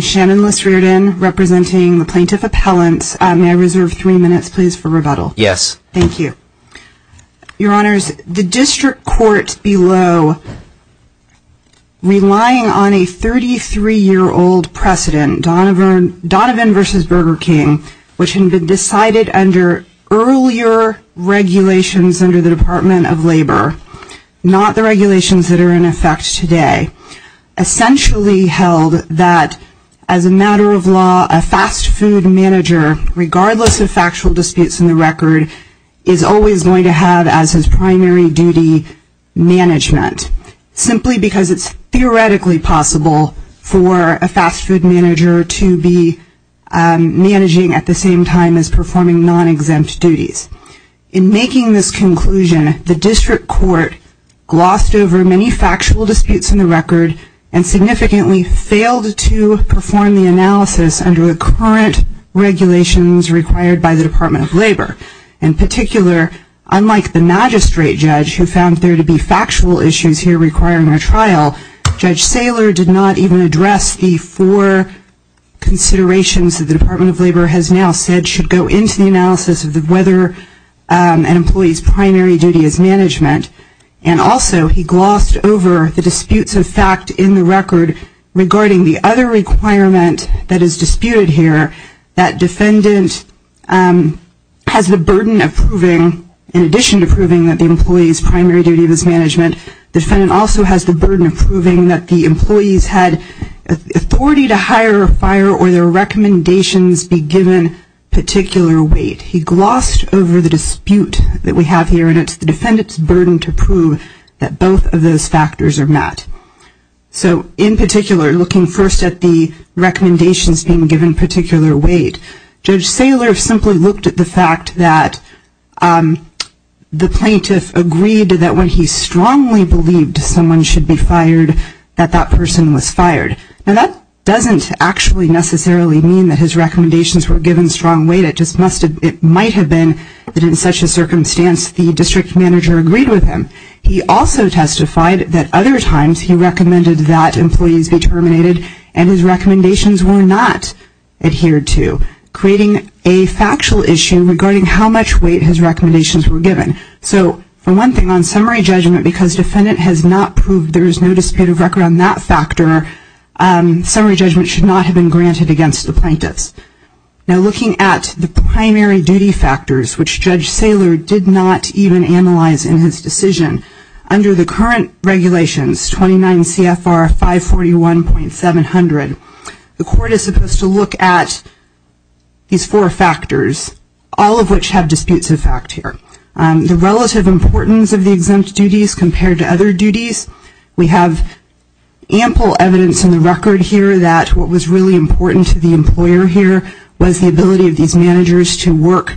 Shannon Liss-Riordan, Plaintiff's Appellant May I reserve three minutes, please, for rebuttal? Yes. Thank you. Your Honors, the District Court below, relying on a 33-year-old precedent, Donovan v. Burger v. King, which had been decided under earlier regulations under the Department of Labor, not the regulations that are in effect today, essentially held that as a matter of law, a fast food manager, regardless of factual disputes in the record, is always going to have as his primary duty management, simply because it's theoretically possible for a managing at the same time as performing non-exempt duties. In making this conclusion, the District Court glossed over many factual disputes in the record and significantly failed to perform the analysis under the current regulations required by the Department of Labor. In particular, unlike the magistrate judge, who found there to be factual issues here requiring a trial, Judge Saylor did not even address the four considerations that the Department of Labor has now said should go into the analysis of whether an employee's primary duty is management. And also, he glossed over the disputes of fact in the record regarding the other requirement that is disputed here, that defendant has the burden of proving, in addition to proving that the employee's primary duty is management, the defendant also has the burden of proving that the employee's had authority to hire a fire or their recommendations be given particular weight. He glossed over the dispute that we have here, and it's the defendant's burden to prove that both of those factors are met. So in particular, looking first at the recommendations being given particular weight, Judge Saylor simply looked at the fact that the plaintiff agreed that when he strongly believed someone should be fired, that that person was fired. Now that doesn't actually necessarily mean that his recommendations were given strong weight, it just might have been that in such a circumstance the district manager agreed with him. He also testified that other times he recommended that employees be terminated and his recommendations were not adhered to, creating a factual issue regarding how much weight his recommendations were given. So for one thing, on summary judgment, because the defendant has not proved there is no dispute of record on that factor, summary judgment should not have been granted against the plaintiffs. Now looking at the primary duty factors, which Judge Saylor did not even analyze in his decision, under the current regulations, 29 CFR 541.700, the court is supposed to look at these four factors, all of which have disputes of fact here. The relative importance of the exempt duties compared to other duties, we have ample evidence in the record here that what was really important to the employer here was the ability of these managers to work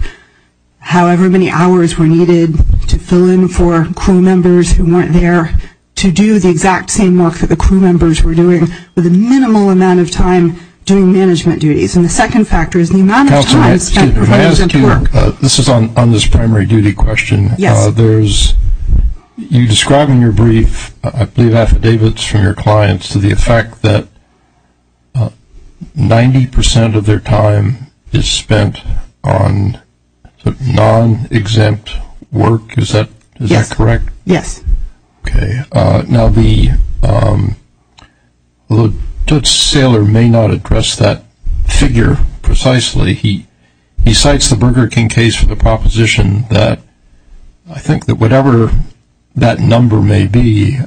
however many hours were needed to fill in for crew members who weren't there to do the exact same work that the crew members were doing with a minimal amount of time doing management duties. And the second factor is the amount of time spent on exempt work. This is on this primary duty question. You describe in your brief, I believe affidavits from your clients to the effect that 90 percent of their time is spent on non-exempt work, is that correct? Yes. Okay. Now the Judge Saylor may not address that figure precisely. He cites the Burger King case for the proposition that I think that whatever that number may be,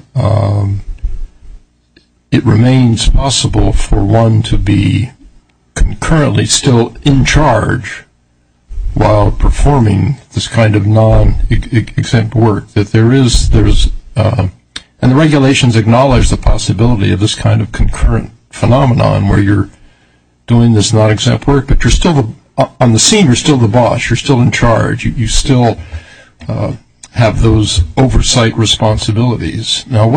it remains possible for one to be concurrently still in charge while performing this kind of non-exempt work. And the regulations acknowledge the possibility of this kind of concurrent phenomenon where you're doing this non-exempt work, but on the scene you're still the boss, you're still in charge, you still have those oversight responsibilities. Now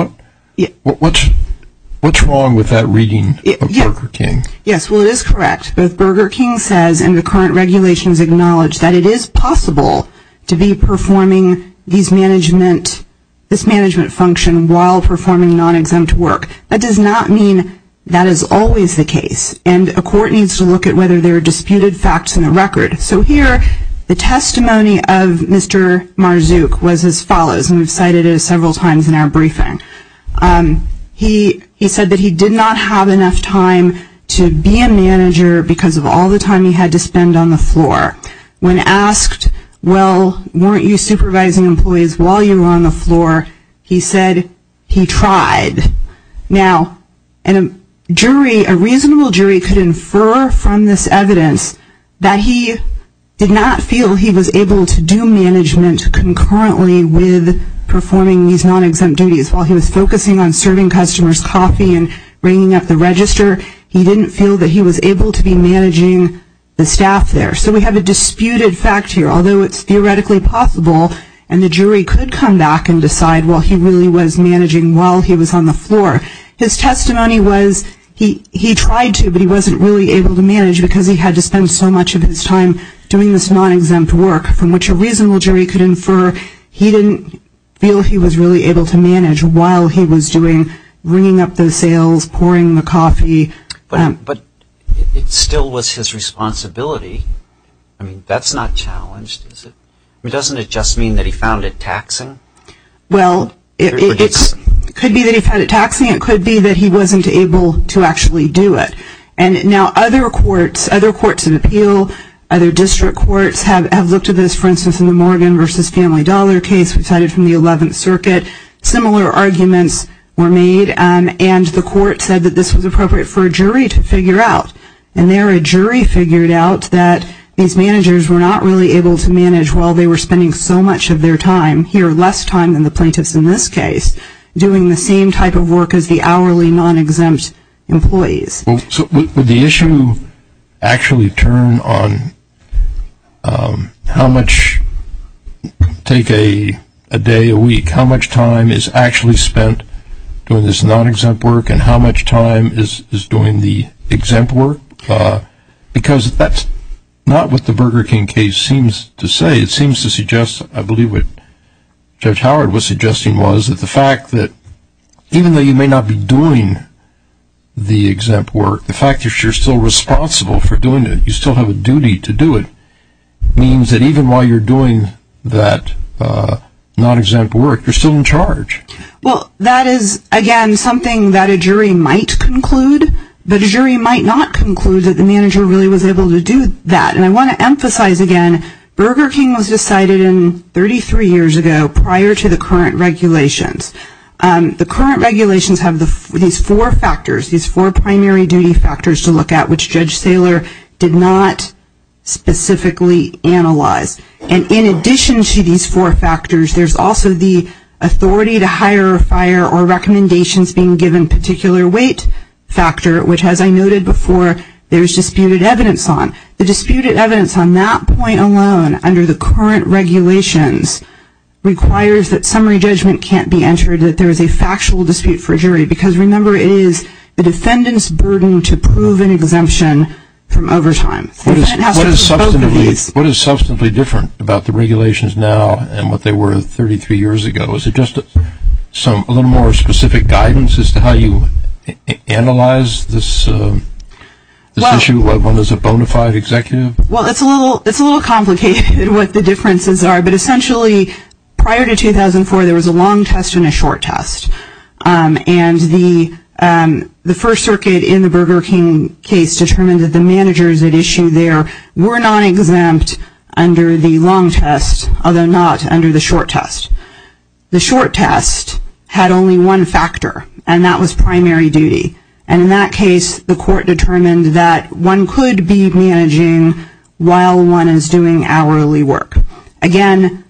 what's wrong with that reading of Burger King? Yes. Well it is correct. Both Burger King says and the current regulations acknowledge that it is possible to be performing this management function while performing non-exempt work. That does not mean that is always the case. And a court needs to look at whether there are disputed facts in the record. So here the testimony of Mr. Marzook was as follows, and we've cited it several times in our briefing. He said that he did not have enough time to be a manager because of all the time he had to spend on the floor. When asked, well, weren't you supervising employees while you were on the floor? He said he tried. Now a reasonable jury could infer from this evidence that he did not feel he was able to do management concurrently with performing these non-exempt duties while he was focusing on serving customers coffee and bringing up the register. He didn't feel that he was able to be managing the staff there. So we have a disputed fact here, although it's theoretically possible and the jury could come back and decide, well, he really was managing while he was on the floor. His testimony was he tried to, but he wasn't really able to manage because he had to spend so much of his time doing this non-exempt work from which a reasonable jury could infer he didn't feel he was really able to manage while he was doing bringing up the sales, pouring the coffee. But it still was his responsibility. That's not challenged, is it? Doesn't it just mean that he found it taxing? Well, it could be that he found it taxing, it could be that he wasn't able to actually do it. And now other courts, other courts of appeal, other district courts have looked at this, for instance, in the Morgan v. Family Dollar case decided from the 11th Circuit. Similar arguments were made and the court said that this was appropriate for a jury to figure out. And there a jury figured out that these managers were not really able to manage while they were spending so much of their time, here less time than the plaintiffs in this case, doing the same type of work as the hourly non-exempt employees. So would the issue actually turn on how much take a day, a week, how much time does it actually spend doing this non-exempt work and how much time is doing the exempt work? Because that's not what the Burger King case seems to say. It seems to suggest, I believe what Judge Howard was suggesting was that the fact that even though you may not be doing the exempt work, the fact that you're still responsible for doing it, you still have a duty to do it, means that even while you're doing that non-exempt work, you're still in charge. Well, that is, again, something that a jury might conclude, but a jury might not conclude that the manager really was able to do that. And I want to emphasize again, Burger King was decided 33 years ago prior to the current regulations. The current regulations have these four factors, these four primary duty factors to look at which Judge Saylor did not specifically analyze. And in addition to these four factors, there's also the authority to hire, fire, or recommendations being given particular weight factor, which as I noted before, there's disputed evidence on. The disputed evidence on that point alone, under the current regulations, requires that summary judgment can't be entered, that there is a factual dispute for a jury. Because remember, it is the defendant's burden to prove an exemption from overtime. What is substantively different about the regulations now and what they were 33 years ago? Is it just a little more specific guidance as to how you analyze this issue, what is a bona fide executive? Well, it's a little complicated what the differences are, but essentially prior to 2004, there was a long test and a short test. And the First Circuit in the Burger King case determined that the managers that issued there were not exempt under the long test, although not under the short test. The short test had only one factor, and that was primary duty. And in that case, the court determined that one could be managing while one is doing hourly work. Again,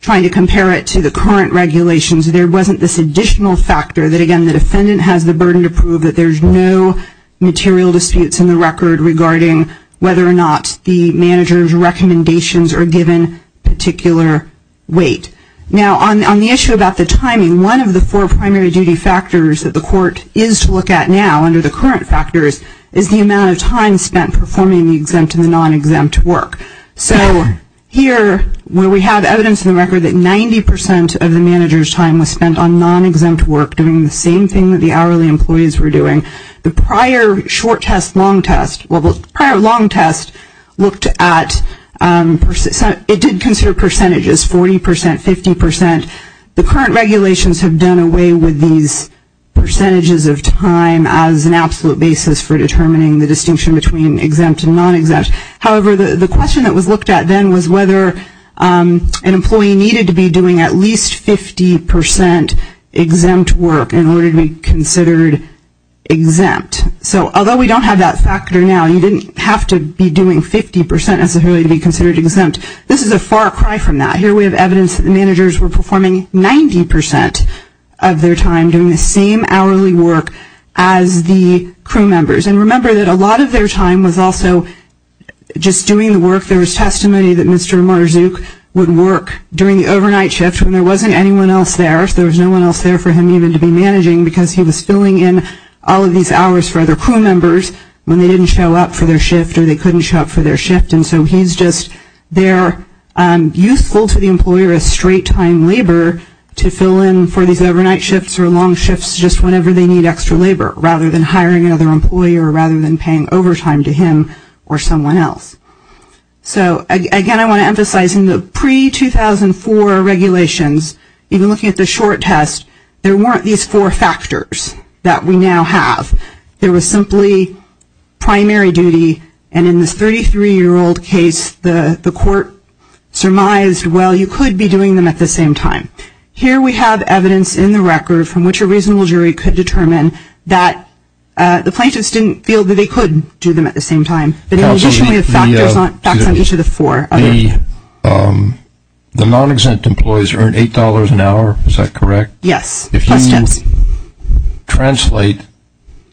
trying to compare it to the current regulations, there wasn't this additional factor that, again, the defendant has the burden to prove that there's no material disputes in the record regarding whether or not the manager's recommendations are given particular weight. Now on the issue about the timing, one of the four primary duty factors that the court is to look at now, under the current factors, is the amount of time spent performing the exempt and the non-exempt work. So here, where we have evidence in the record that 90% of the manager's time was spent on non-exempt work, doing the same thing that the hourly employees were doing, the prior short test, long test, well, the prior long test looked at, it did consider percentages, 40%, 50%. The current regulations have done away with these percentages of time as an absolute basis for determining the distinction between exempt and non-exempt. However, the question that was looked at then was whether an employee needed to be doing at least 50% exempt work in order to be considered exempt. So although we don't have that factor now, you didn't have to be doing 50% necessarily to be considered exempt, this is a far cry from that. Here we have evidence that the managers were performing 90% of their time doing the same hourly work as the crew members. And remember that a lot of their time was also just doing the work. There was testimony that Mr. Marzook would work during the overnight shift when there wasn't anyone else there, so there was no one else there for him even to be managing because he was filling in all of these hours for other crew members when they didn't show up for their shift or they couldn't show up for their shift. And so he's just there useful to the employer as straight-time labor to fill in for these overnight shifts or long shifts just whenever they need extra labor, rather than hiring another employer or rather than paying overtime to him or someone else. So again, I want to emphasize in the pre-2004 regulations, even looking at the short test, there weren't these four factors that we now have. There was simply primary duty and in this 33-year-old case, the court surmised, well, you could be doing them at the same time. Here we have evidence in the record from which a reasonable jury could determine that the plaintiffs didn't feel that they could do them at the same time, but in addition, we have factors on each of the four. The non-exempt employees earn $8 an hour, is that correct? Yes. Plus tips. If you translate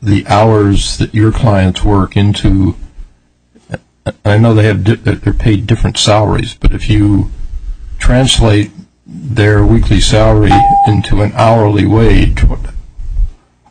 the hours that your clients work into, I know they're paid different salaries, but if you translate their weekly salary into an hourly wage,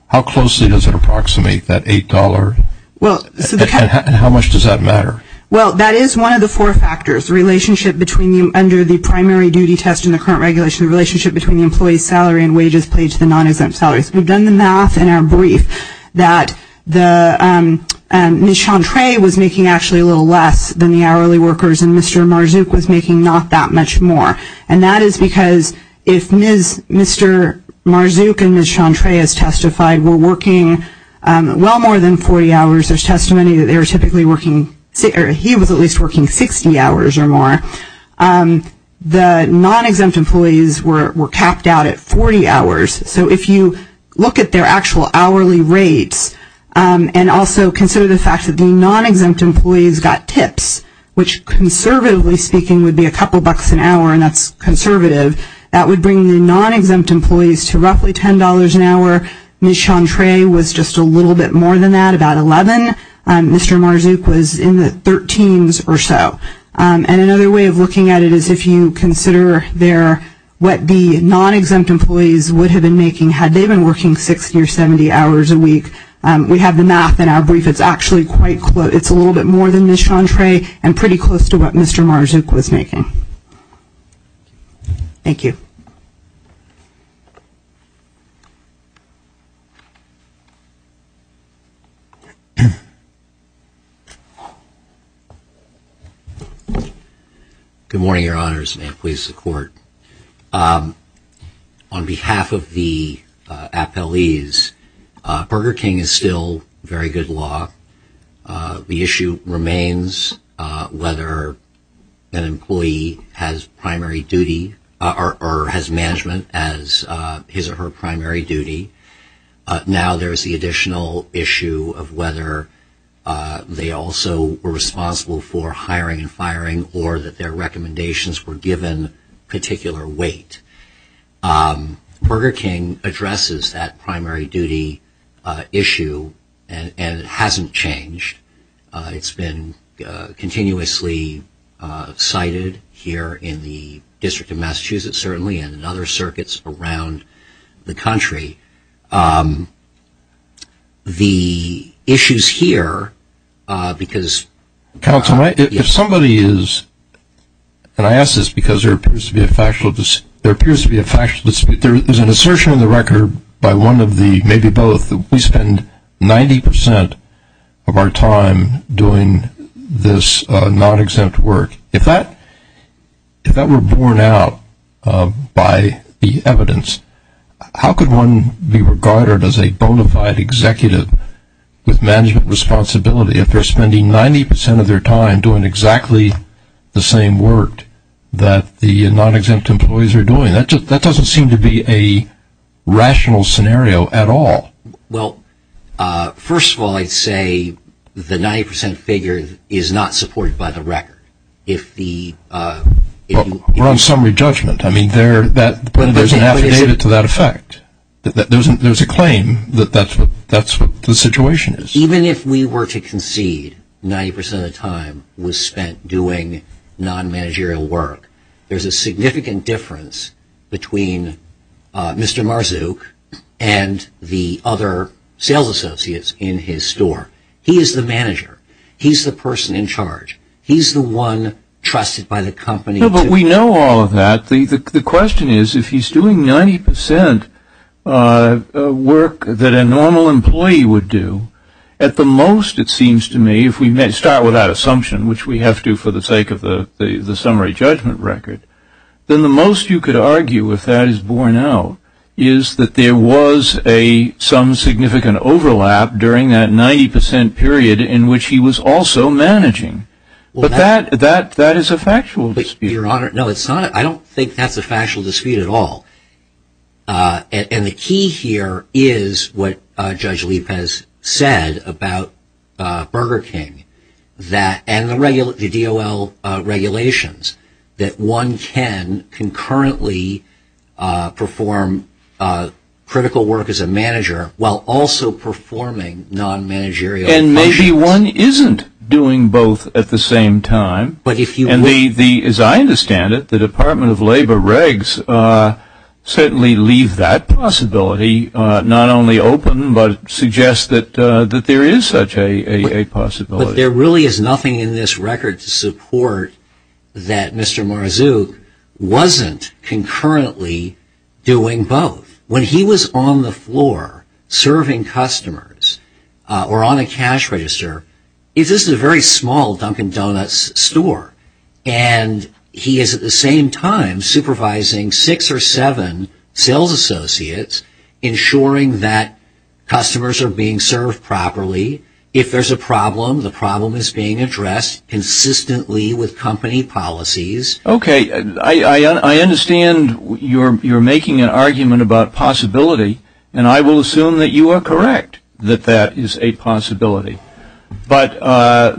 how closely does it approximate that $8 and how much does that matter? Well, that is one of the four factors, the relationship between under the primary duty test in the current regulation, the relationship between the employee's salary and wages paid to the non-exempt salaries. We've done the math in our brief that Ms. Chantres was making actually a little less than the hourly workers and Mr. Marzouk was making not that much more. And that is because if Mr. Marzouk and Ms. Chantres testified were working well more than 40 hours, there's testimony that they were typically working, or he was at least working 60 hours or more, the non-exempt employees were capped out at 40 hours. So if you look at their actual hourly rates and also consider the fact that the non-exempt employees got tips, which conservatively speaking would be a couple bucks an hour, and that's conservative, that would bring the non-exempt employees to roughly $10 an hour. Ms. Chantres was just a little bit more than that, about $11. Mr. Marzouk was in the $13s or so. And another way of looking at it is if you consider their, what the non-exempt employees would have been making had they been working 60 or 70 hours a week. We have the math in our brief. It's actually quite close. It's a little bit more than Ms. Chantres and pretty close to what Mr. Marzouk was making. Thank you. Good morning, Your Honors, and may it please the Court. On behalf of the appellees, Burger King is still very good law. The issue remains whether an employee has primary duty or has management as his or her primary duty. Now there's the additional issue of whether they also were responsible for hiring and their weight. Burger King addresses that primary duty issue and it hasn't changed. It's been continuously cited here in the District of Massachusetts certainly and in other circuits around the country. The issues here, because- Counsel, if somebody is, and I ask this because there appears to be a factual dispute, there is an assertion in the record by one of the, maybe both, that we spend 90% of our time doing this non-exempt work. If that were borne out by the evidence, how could one be regarded as a bona fide executive with management responsibility if they're spending 90% of their time doing exactly the same work that the non-exempt employees are doing? That doesn't seem to be a rational scenario at all. Well, first of all, I'd say the 90% figure is not supported by the record. We're on summary judgment. I mean, there's an affidavit to that effect. There's a claim that that's what the situation is. Even if we were to concede 90% of the time was spent doing non-managerial work, there's a significant difference between Mr. Marzook and the other sales associates in his store. He is the manager. He's the person in charge. He's the one trusted by the company. We know all of that. The question is, if he's doing 90% work that a normal employee would do, at the most it seems to me, if we start with that assumption, which we have to for the sake of the summary judgment record, then the most you could argue, if that is borne out, is that there was some significant overlap during that 90% period in which he was also managing. But that is a factual dispute. I don't think that's a factual dispute at all. The key here is what Judge Lippe has said about Burger King and the DOL regulations, that one can concurrently perform critical work as a manager while also performing non-managerial functions. Maybe one isn't doing both at the same time. As I understand it, the Department of Labor regs certainly leave that possibility not only open, but suggest that there is such a possibility. There really is nothing in this record to support that Mr. Marzook wasn't concurrently doing both. When he was on the floor serving customers or on a cash register, this is a very small Dunkin' Donuts store. He is at the same time supervising six or seven sales associates, ensuring that customers are being served properly. If there's a problem, the problem is being addressed consistently with company policies. I understand you're making an argument about possibility, and I will assume that you are correct that that is a possibility. But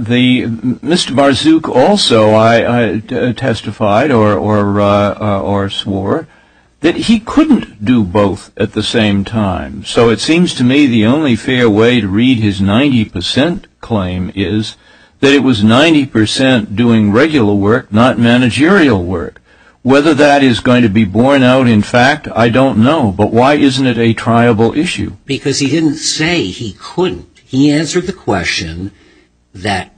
Mr. Marzook also testified or swore that he couldn't do both at the same time. So it seems to me the only fair way to read his 90 percent claim is that it was 90 percent doing regular work, not managerial work. Whether that is going to be borne out in fact, I don't know. But why isn't it a triable issue? Because he didn't say he couldn't. He answered the question that,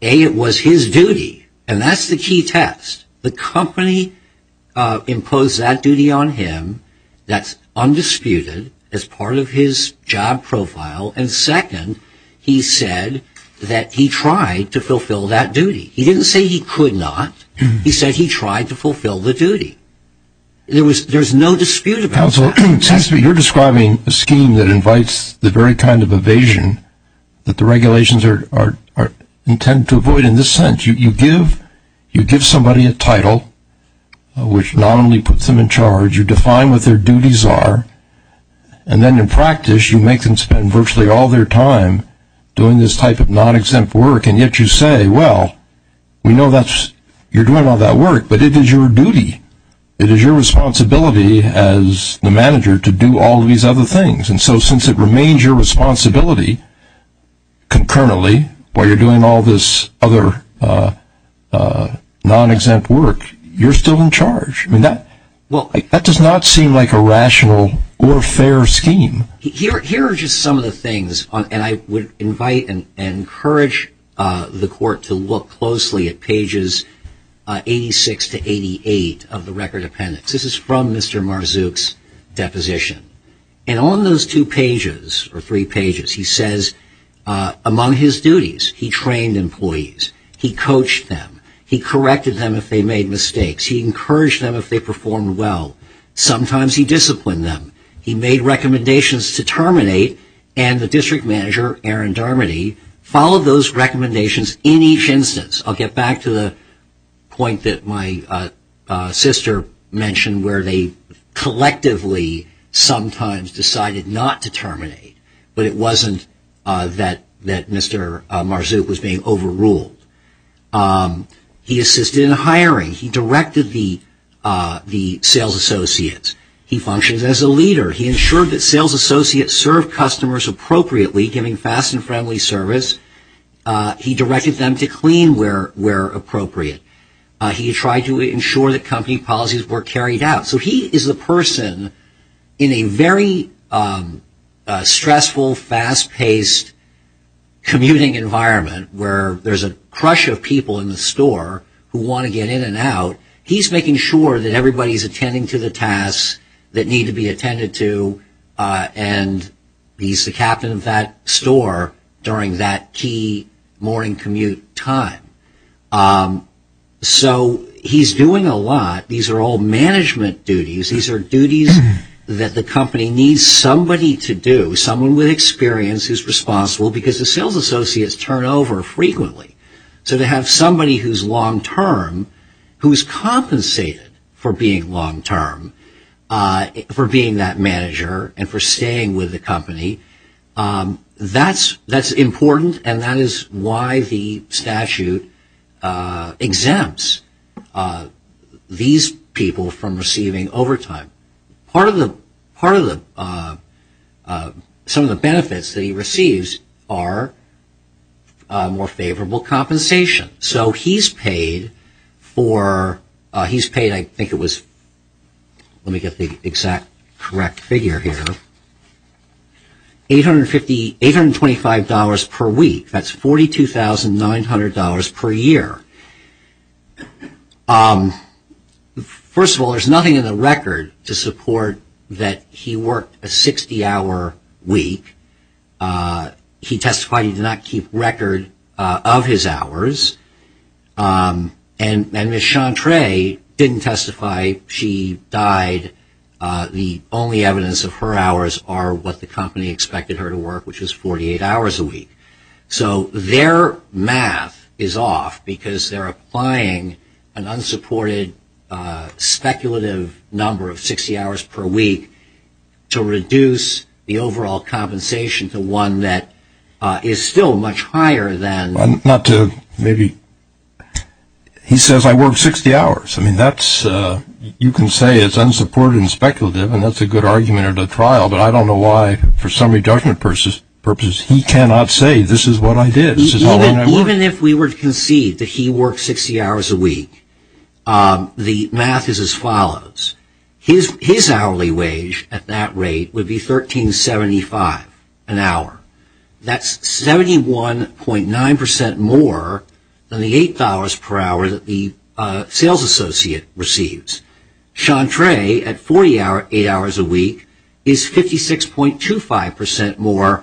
A, it was his duty, and that's the key test. The company imposed that duty on him. That's undisputed as part of his job profile. And second, he said that he tried to fulfill that duty. He didn't say he could not. He said he tried to fulfill the duty. There's no dispute about that. Counsel, it seems to me you're describing a scheme that invites the very kind of evasion that the regulations are intended to avoid in this sense. You give somebody a title, which not only puts them in charge, you define what their duties are, and then in practice you make them spend virtually all their time doing this type of non-exempt work, and yet you say, well, we know that you're doing all that work, but it is your duty. It is your responsibility as the manager to do all these other things, and so since it remains your responsibility concurrently while you're doing all this other non-exempt work, you're still in charge. That does not seem like a rational or fair scheme. Here are just some of the things, and I would invite and encourage the court to look closely at pages 86 to 88 of the record appendix. This is from Mr. Marzook's deposition. And on those two pages, or three pages, he says, among his duties, he trained employees. He coached them. He corrected them if they made mistakes. He encouraged them if they performed well. Sometimes he disciplined them. He made recommendations to terminate, and the district manager, Aaron Darmody, followed those recommendations in each instance. I'll get back to the point that my sister mentioned where they collectively sometimes decided not to terminate, but it wasn't that Mr. Marzook was being overruled. He assisted in hiring. He directed the sales associates. He functioned as a leader. He ensured that sales associates served customers appropriately, giving fast and friendly service. He directed them to clean where appropriate. He tried to ensure that company policies were carried out. So he is the person in a very stressful, fast-paced commuting environment where there's a crush of people in the store who want to get in and out. He's making sure that everybody's attending to the tasks that need to be attended to, and he's the captain of that store during that key morning commute time. He's doing a lot. These are all management duties. These are duties that the company needs somebody to do, someone with experience who's responsible, because the sales associates turn over frequently. So to have somebody who's long-term, who's compensated for being long-term, for being that manager, and for staying with the company, that's important, and that is why the statute exempts these people from receiving overtime. Part of the benefits that he receives are more favorable compensation. So he's paid, I think it was, let me get the exact correct figure here, $825 per week. That's $42,900 per year. First of all, there's nothing in the record to support that he worked a 60-hour week. He testified he did not keep record of his hours, and Ms. Chantres didn't testify. She died. The only evidence of her hours are what the company expected her to work, which was 48 hours a week. So their math is off, because they're applying an unsupported speculative number of 60 hours per week to reduce the overall compensation to one that is still much higher than... Not to maybe... He says I worked 60 hours. You can say it's unsupported and speculative, and that's a good argument at a trial, but I don't know why, for some reductive purposes, he cannot say this is what I did, this is how long I worked. Even if we were to concede that he worked 60 hours a week, the math is as follows. His hourly wage at that rate would be $1,375 an hour. That's 71.9% more than the $8 per hour that the sales associate receives. Chantres, at 48 hours a week, is 56.25% more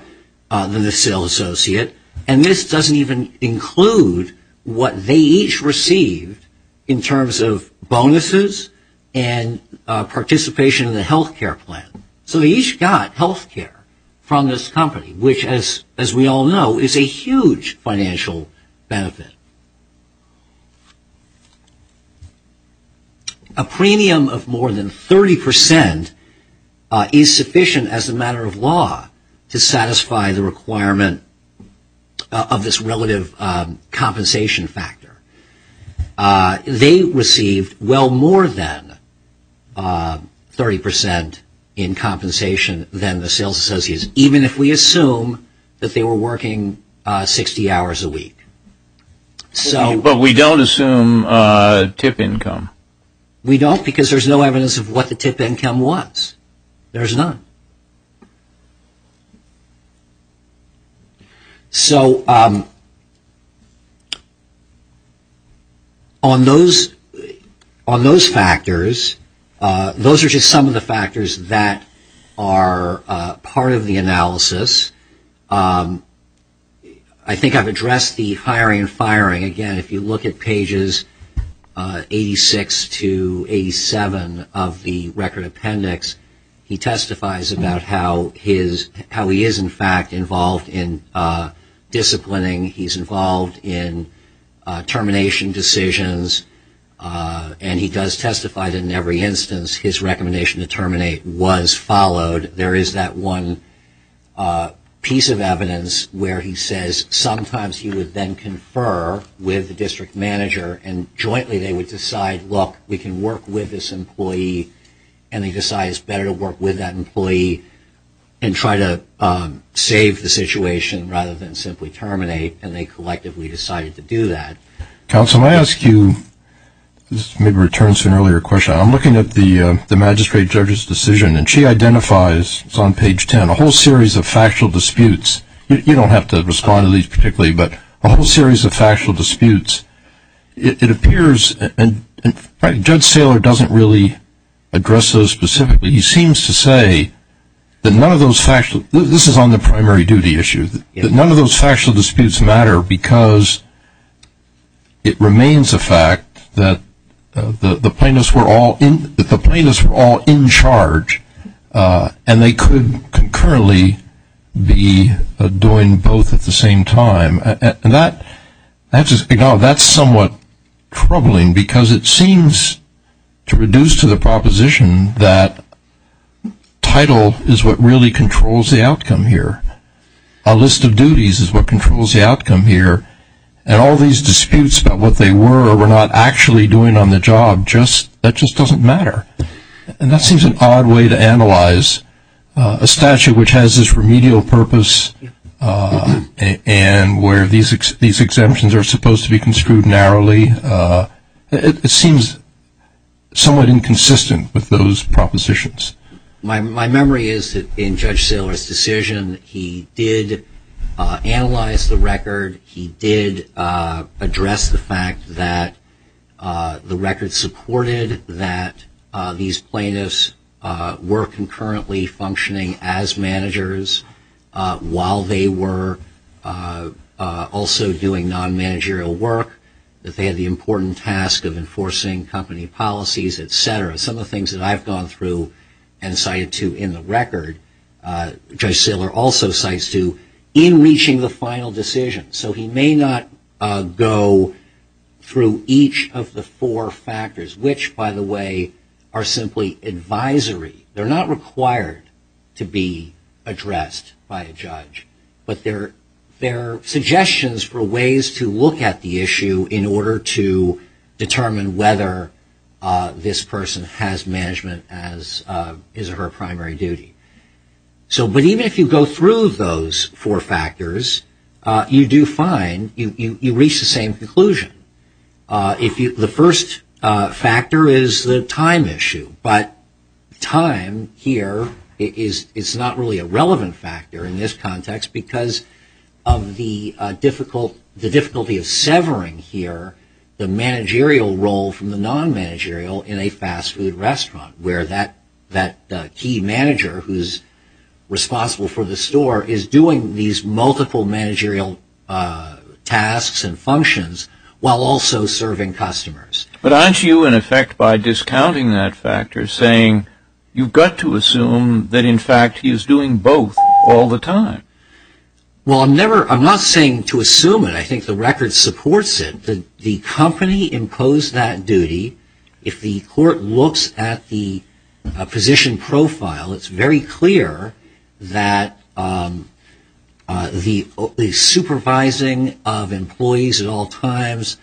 than the sales associate, and this doesn't even include what they each received in terms of bonuses and participation in the health care plan. So they each got health care from this company, which, as we all know, is a huge financial benefit. A premium of more than 30% is sufficient as a matter of law to satisfy the requirement of this relative compensation factor. They received well more than 30% in compensation than the sales associates, even if we assume that they were working 60 hours a week. But we don't assume tip income. We don't, because there's no evidence of what the tip income was. There's none. So, on those factors, those are just some of the factors that are part of the analysis. I think I've addressed the hiring and firing. Again, if you look at pages 86 to 87 of the Record Appendix, he testifies about how he is, in fact, involved in disciplining. He's involved in termination decisions, and he does testify that in every instance his recommendation to terminate was followed. There is that one piece of evidence where he says sometimes he would then confer with the district manager, and jointly they would decide, look, we can work with this employee, and they decided it's better to work with that employee and try to save the situation rather than simply terminate, and they collectively decided to do that. Counsel, may I ask you, this maybe returns to an earlier question, I'm looking at the slides, it's on page 10, a whole series of factual disputes. You don't have to respond to these particularly, but a whole series of factual disputes. It appears, and Judge Saylor doesn't really address those specifically, he seems to say that none of those factual, this is on the primary duty issue, that none of those factual disputes matter because it remains a fact that the plaintiffs were all in, that the plaintiffs were all in, and they could concurrently be doing both at the same time, and that's somewhat troubling because it seems to reduce to the proposition that title is what really controls the outcome here. A list of duties is what controls the outcome here, and all these disputes about what they were or were not actually doing on the job, that just doesn't matter. And that seems an odd way to analyze a statute which has this remedial purpose and where these exemptions are supposed to be construed narrowly. It seems somewhat inconsistent with those propositions. My memory is that in Judge Saylor's decision, he did analyze the record, he did address the fact that the record supported that these plaintiffs were concurrently functioning as managers while they were also doing non-managerial work, that they had the important task of enforcing company policies, et cetera. Some of the things that I've gone through and cited to in the record, Judge Saylor also cites two, in reaching the final decision. So he may not go through each of the four factors, which, by the way, are simply advisory. They're not required to be addressed by a judge, but they're suggestions for ways to look at the issue in order to determine whether this person has management as is her primary duty. But even if you go through those four factors, you reach the same conclusion. The first factor is the time issue, but time here is not really a relevant factor in this context because of the difficulty of severing here the managerial role from the non-managerial in a fast food restaurant, where that key manager who's responsible for the store is doing these multiple managerial tasks and functions while also serving customers. But aren't you, in effect, by discounting that factor saying you've got to assume that in fact he's doing both all the time? Well, I'm not saying to assume it. I think the record supports it. The company imposed that duty. If the court looks at the position profile, it's very clear that the supervising of employees at all times,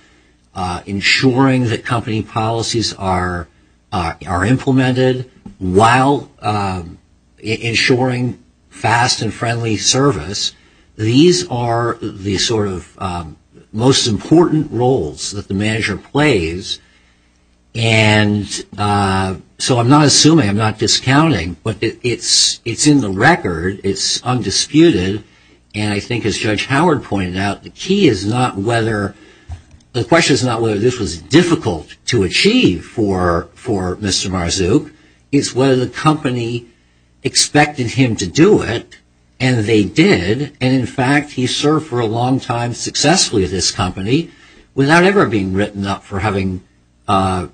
ensuring that company policies are implemented while ensuring fast and friendly service, these are the sort of most important roles that the manager plays. And so I'm not assuming, I'm not discounting, but it's in the record, it's undisputed. And I think as Judge Howard pointed out, the question is not whether this was difficult to achieve for Mr. Marzouk, it's whether the company expected him to do it, and they did. And in fact, he served for a long time successfully at this company without ever being written up for having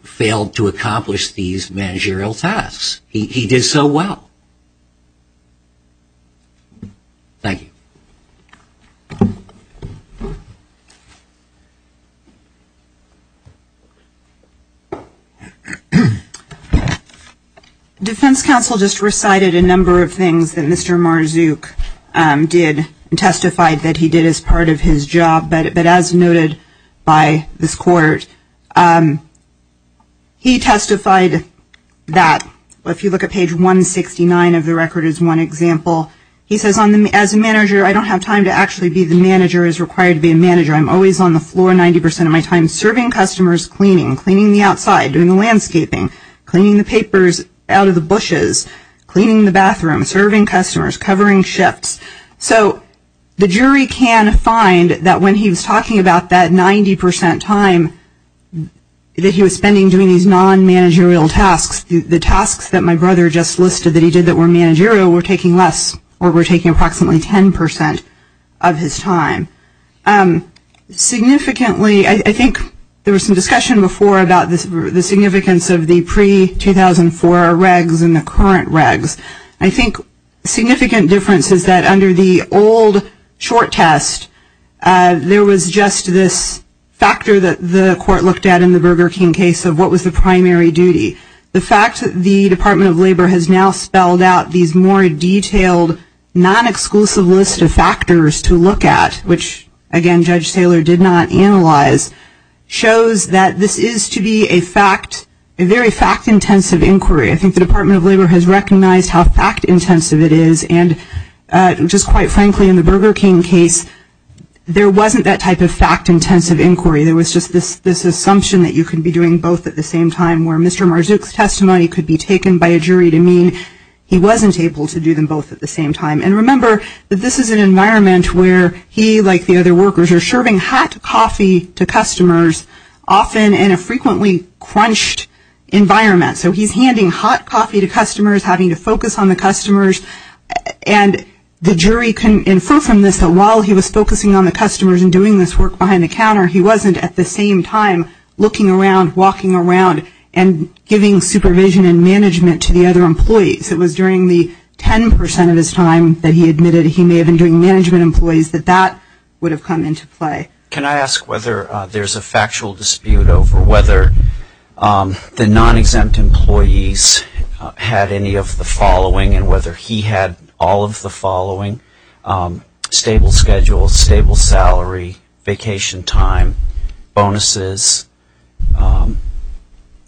failed to accomplish these managerial tasks. He did so well. Thank you. Defense counsel just recited a number of things that Mr. Marzouk did and testified that he did as part of his job, but as noted by this court, he testified that if you look at page 169 of the record as one example, he says, as a manager, I don't have time to actually be the manager as required to be a manager. I'm always on the floor 90 percent of my time serving customers, cleaning, cleaning the outside, doing the landscaping, cleaning the papers out of the bushes, cleaning the bathroom, serving customers, covering shifts. So the jury can find that when he was talking about that 90 percent time that he was spending doing these non-managerial tasks, the tasks that my brother just listed that he did that were managerial were taking less, less than 90 percent of his time. Significantly, I think there was some discussion before about the significance of the pre-2004 regs and the current regs. I think significant difference is that under the old short test, there was just this factor that the court looked at in the Burger King case of what was the primary duty. The fact that the Department of Labor has now spelled out these more detailed non-exclusive list of factors to look at, which again Judge Taylor did not analyze, shows that this is to be a fact, a very fact-intensive inquiry. I think the Department of Labor has recognized how fact-intensive it is and just quite frankly in the Burger King case, there wasn't that type of fact-intensive inquiry. There was just this assumption that you could be doing both at the same time where Mr. Marzook's testimony could be taken by a jury to mean he wasn't able to do them both at the same time. And remember that this is an environment where he, like the other workers, are serving hot coffee to customers often in a frequently crunched environment. So he's handing hot coffee to customers, having to focus on the customers, and the jury can infer from this that while he was focusing on the customers and doing this work behind the counter, he wasn't at the same time looking around, walking around, and giving supervision and management to the other employees. It was during the 10% of his time that he admitted he may have been doing management employees that that would have come into play. Can I ask whether there's a factual dispute over whether the non-exempt employees had any of the following and whether he had all of the following, stable schedule, stable salary, vacation time, bonuses,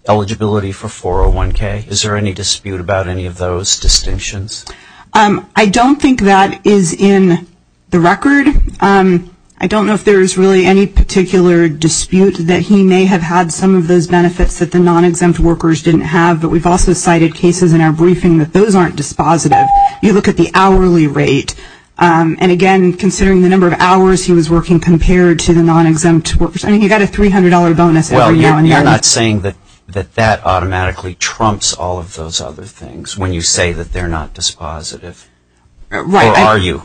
eligibility for 401K? Is there any dispute about any of those distinctions? I don't think that is in the record. I don't know if there's really any particular dispute that he may have had some of those benefits that the non-exempt workers didn't have. But we've also cited cases in our briefing that those aren't dispositive. You look at the hourly rate. And again, considering the number of hours he was working compared to the non-exempt workers. I mean, he got a $300 bonus every now and then. You're not saying that that automatically trumps all of those other things when you say that they're not dispositive. Right. Or are you?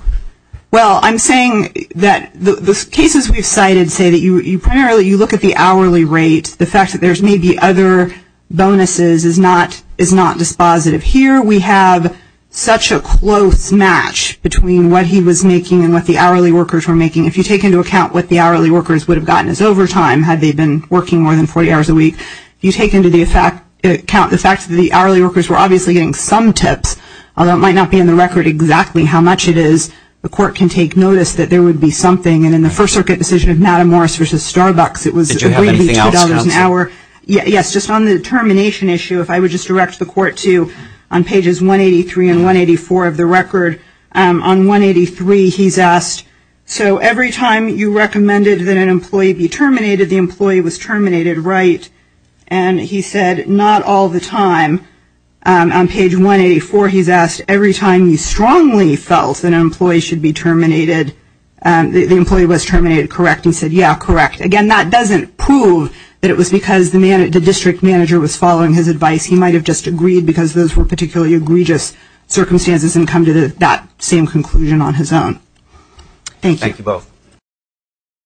Well, I'm saying that the cases we've cited say that you primarily, you look at the hourly rate. The fact that there's maybe other bonuses is not dispositive. Here we have such a close match between what he was making and what the hourly workers were making. If you take into account what the hourly workers would have gotten as overtime, had they been working more than 40 hours a week. You take into account the fact that the hourly workers were obviously getting some tips, although it might not be in the record exactly how much it is. The court can take notice that there would be something. And in the First Circuit decision of Natta Morris versus Starbucks, it was agreed to $2 an hour. Yes, just on the termination issue, if I would just direct the court to on pages 183 and 184 of the record. On 183, he's asked, so every time you recommended that an employee be terminated, the employee was terminated, right? And he said, not all the time. On page 184, he's asked, every time you strongly felt an employee should be terminated, the employee was terminated, correct? He said, yeah, correct. Again, that doesn't prove that it was because the district manager was following his advice. He might have just agreed because those were particularly egregious circumstances and come to that same conclusion on his own. Thank you. Thank you both.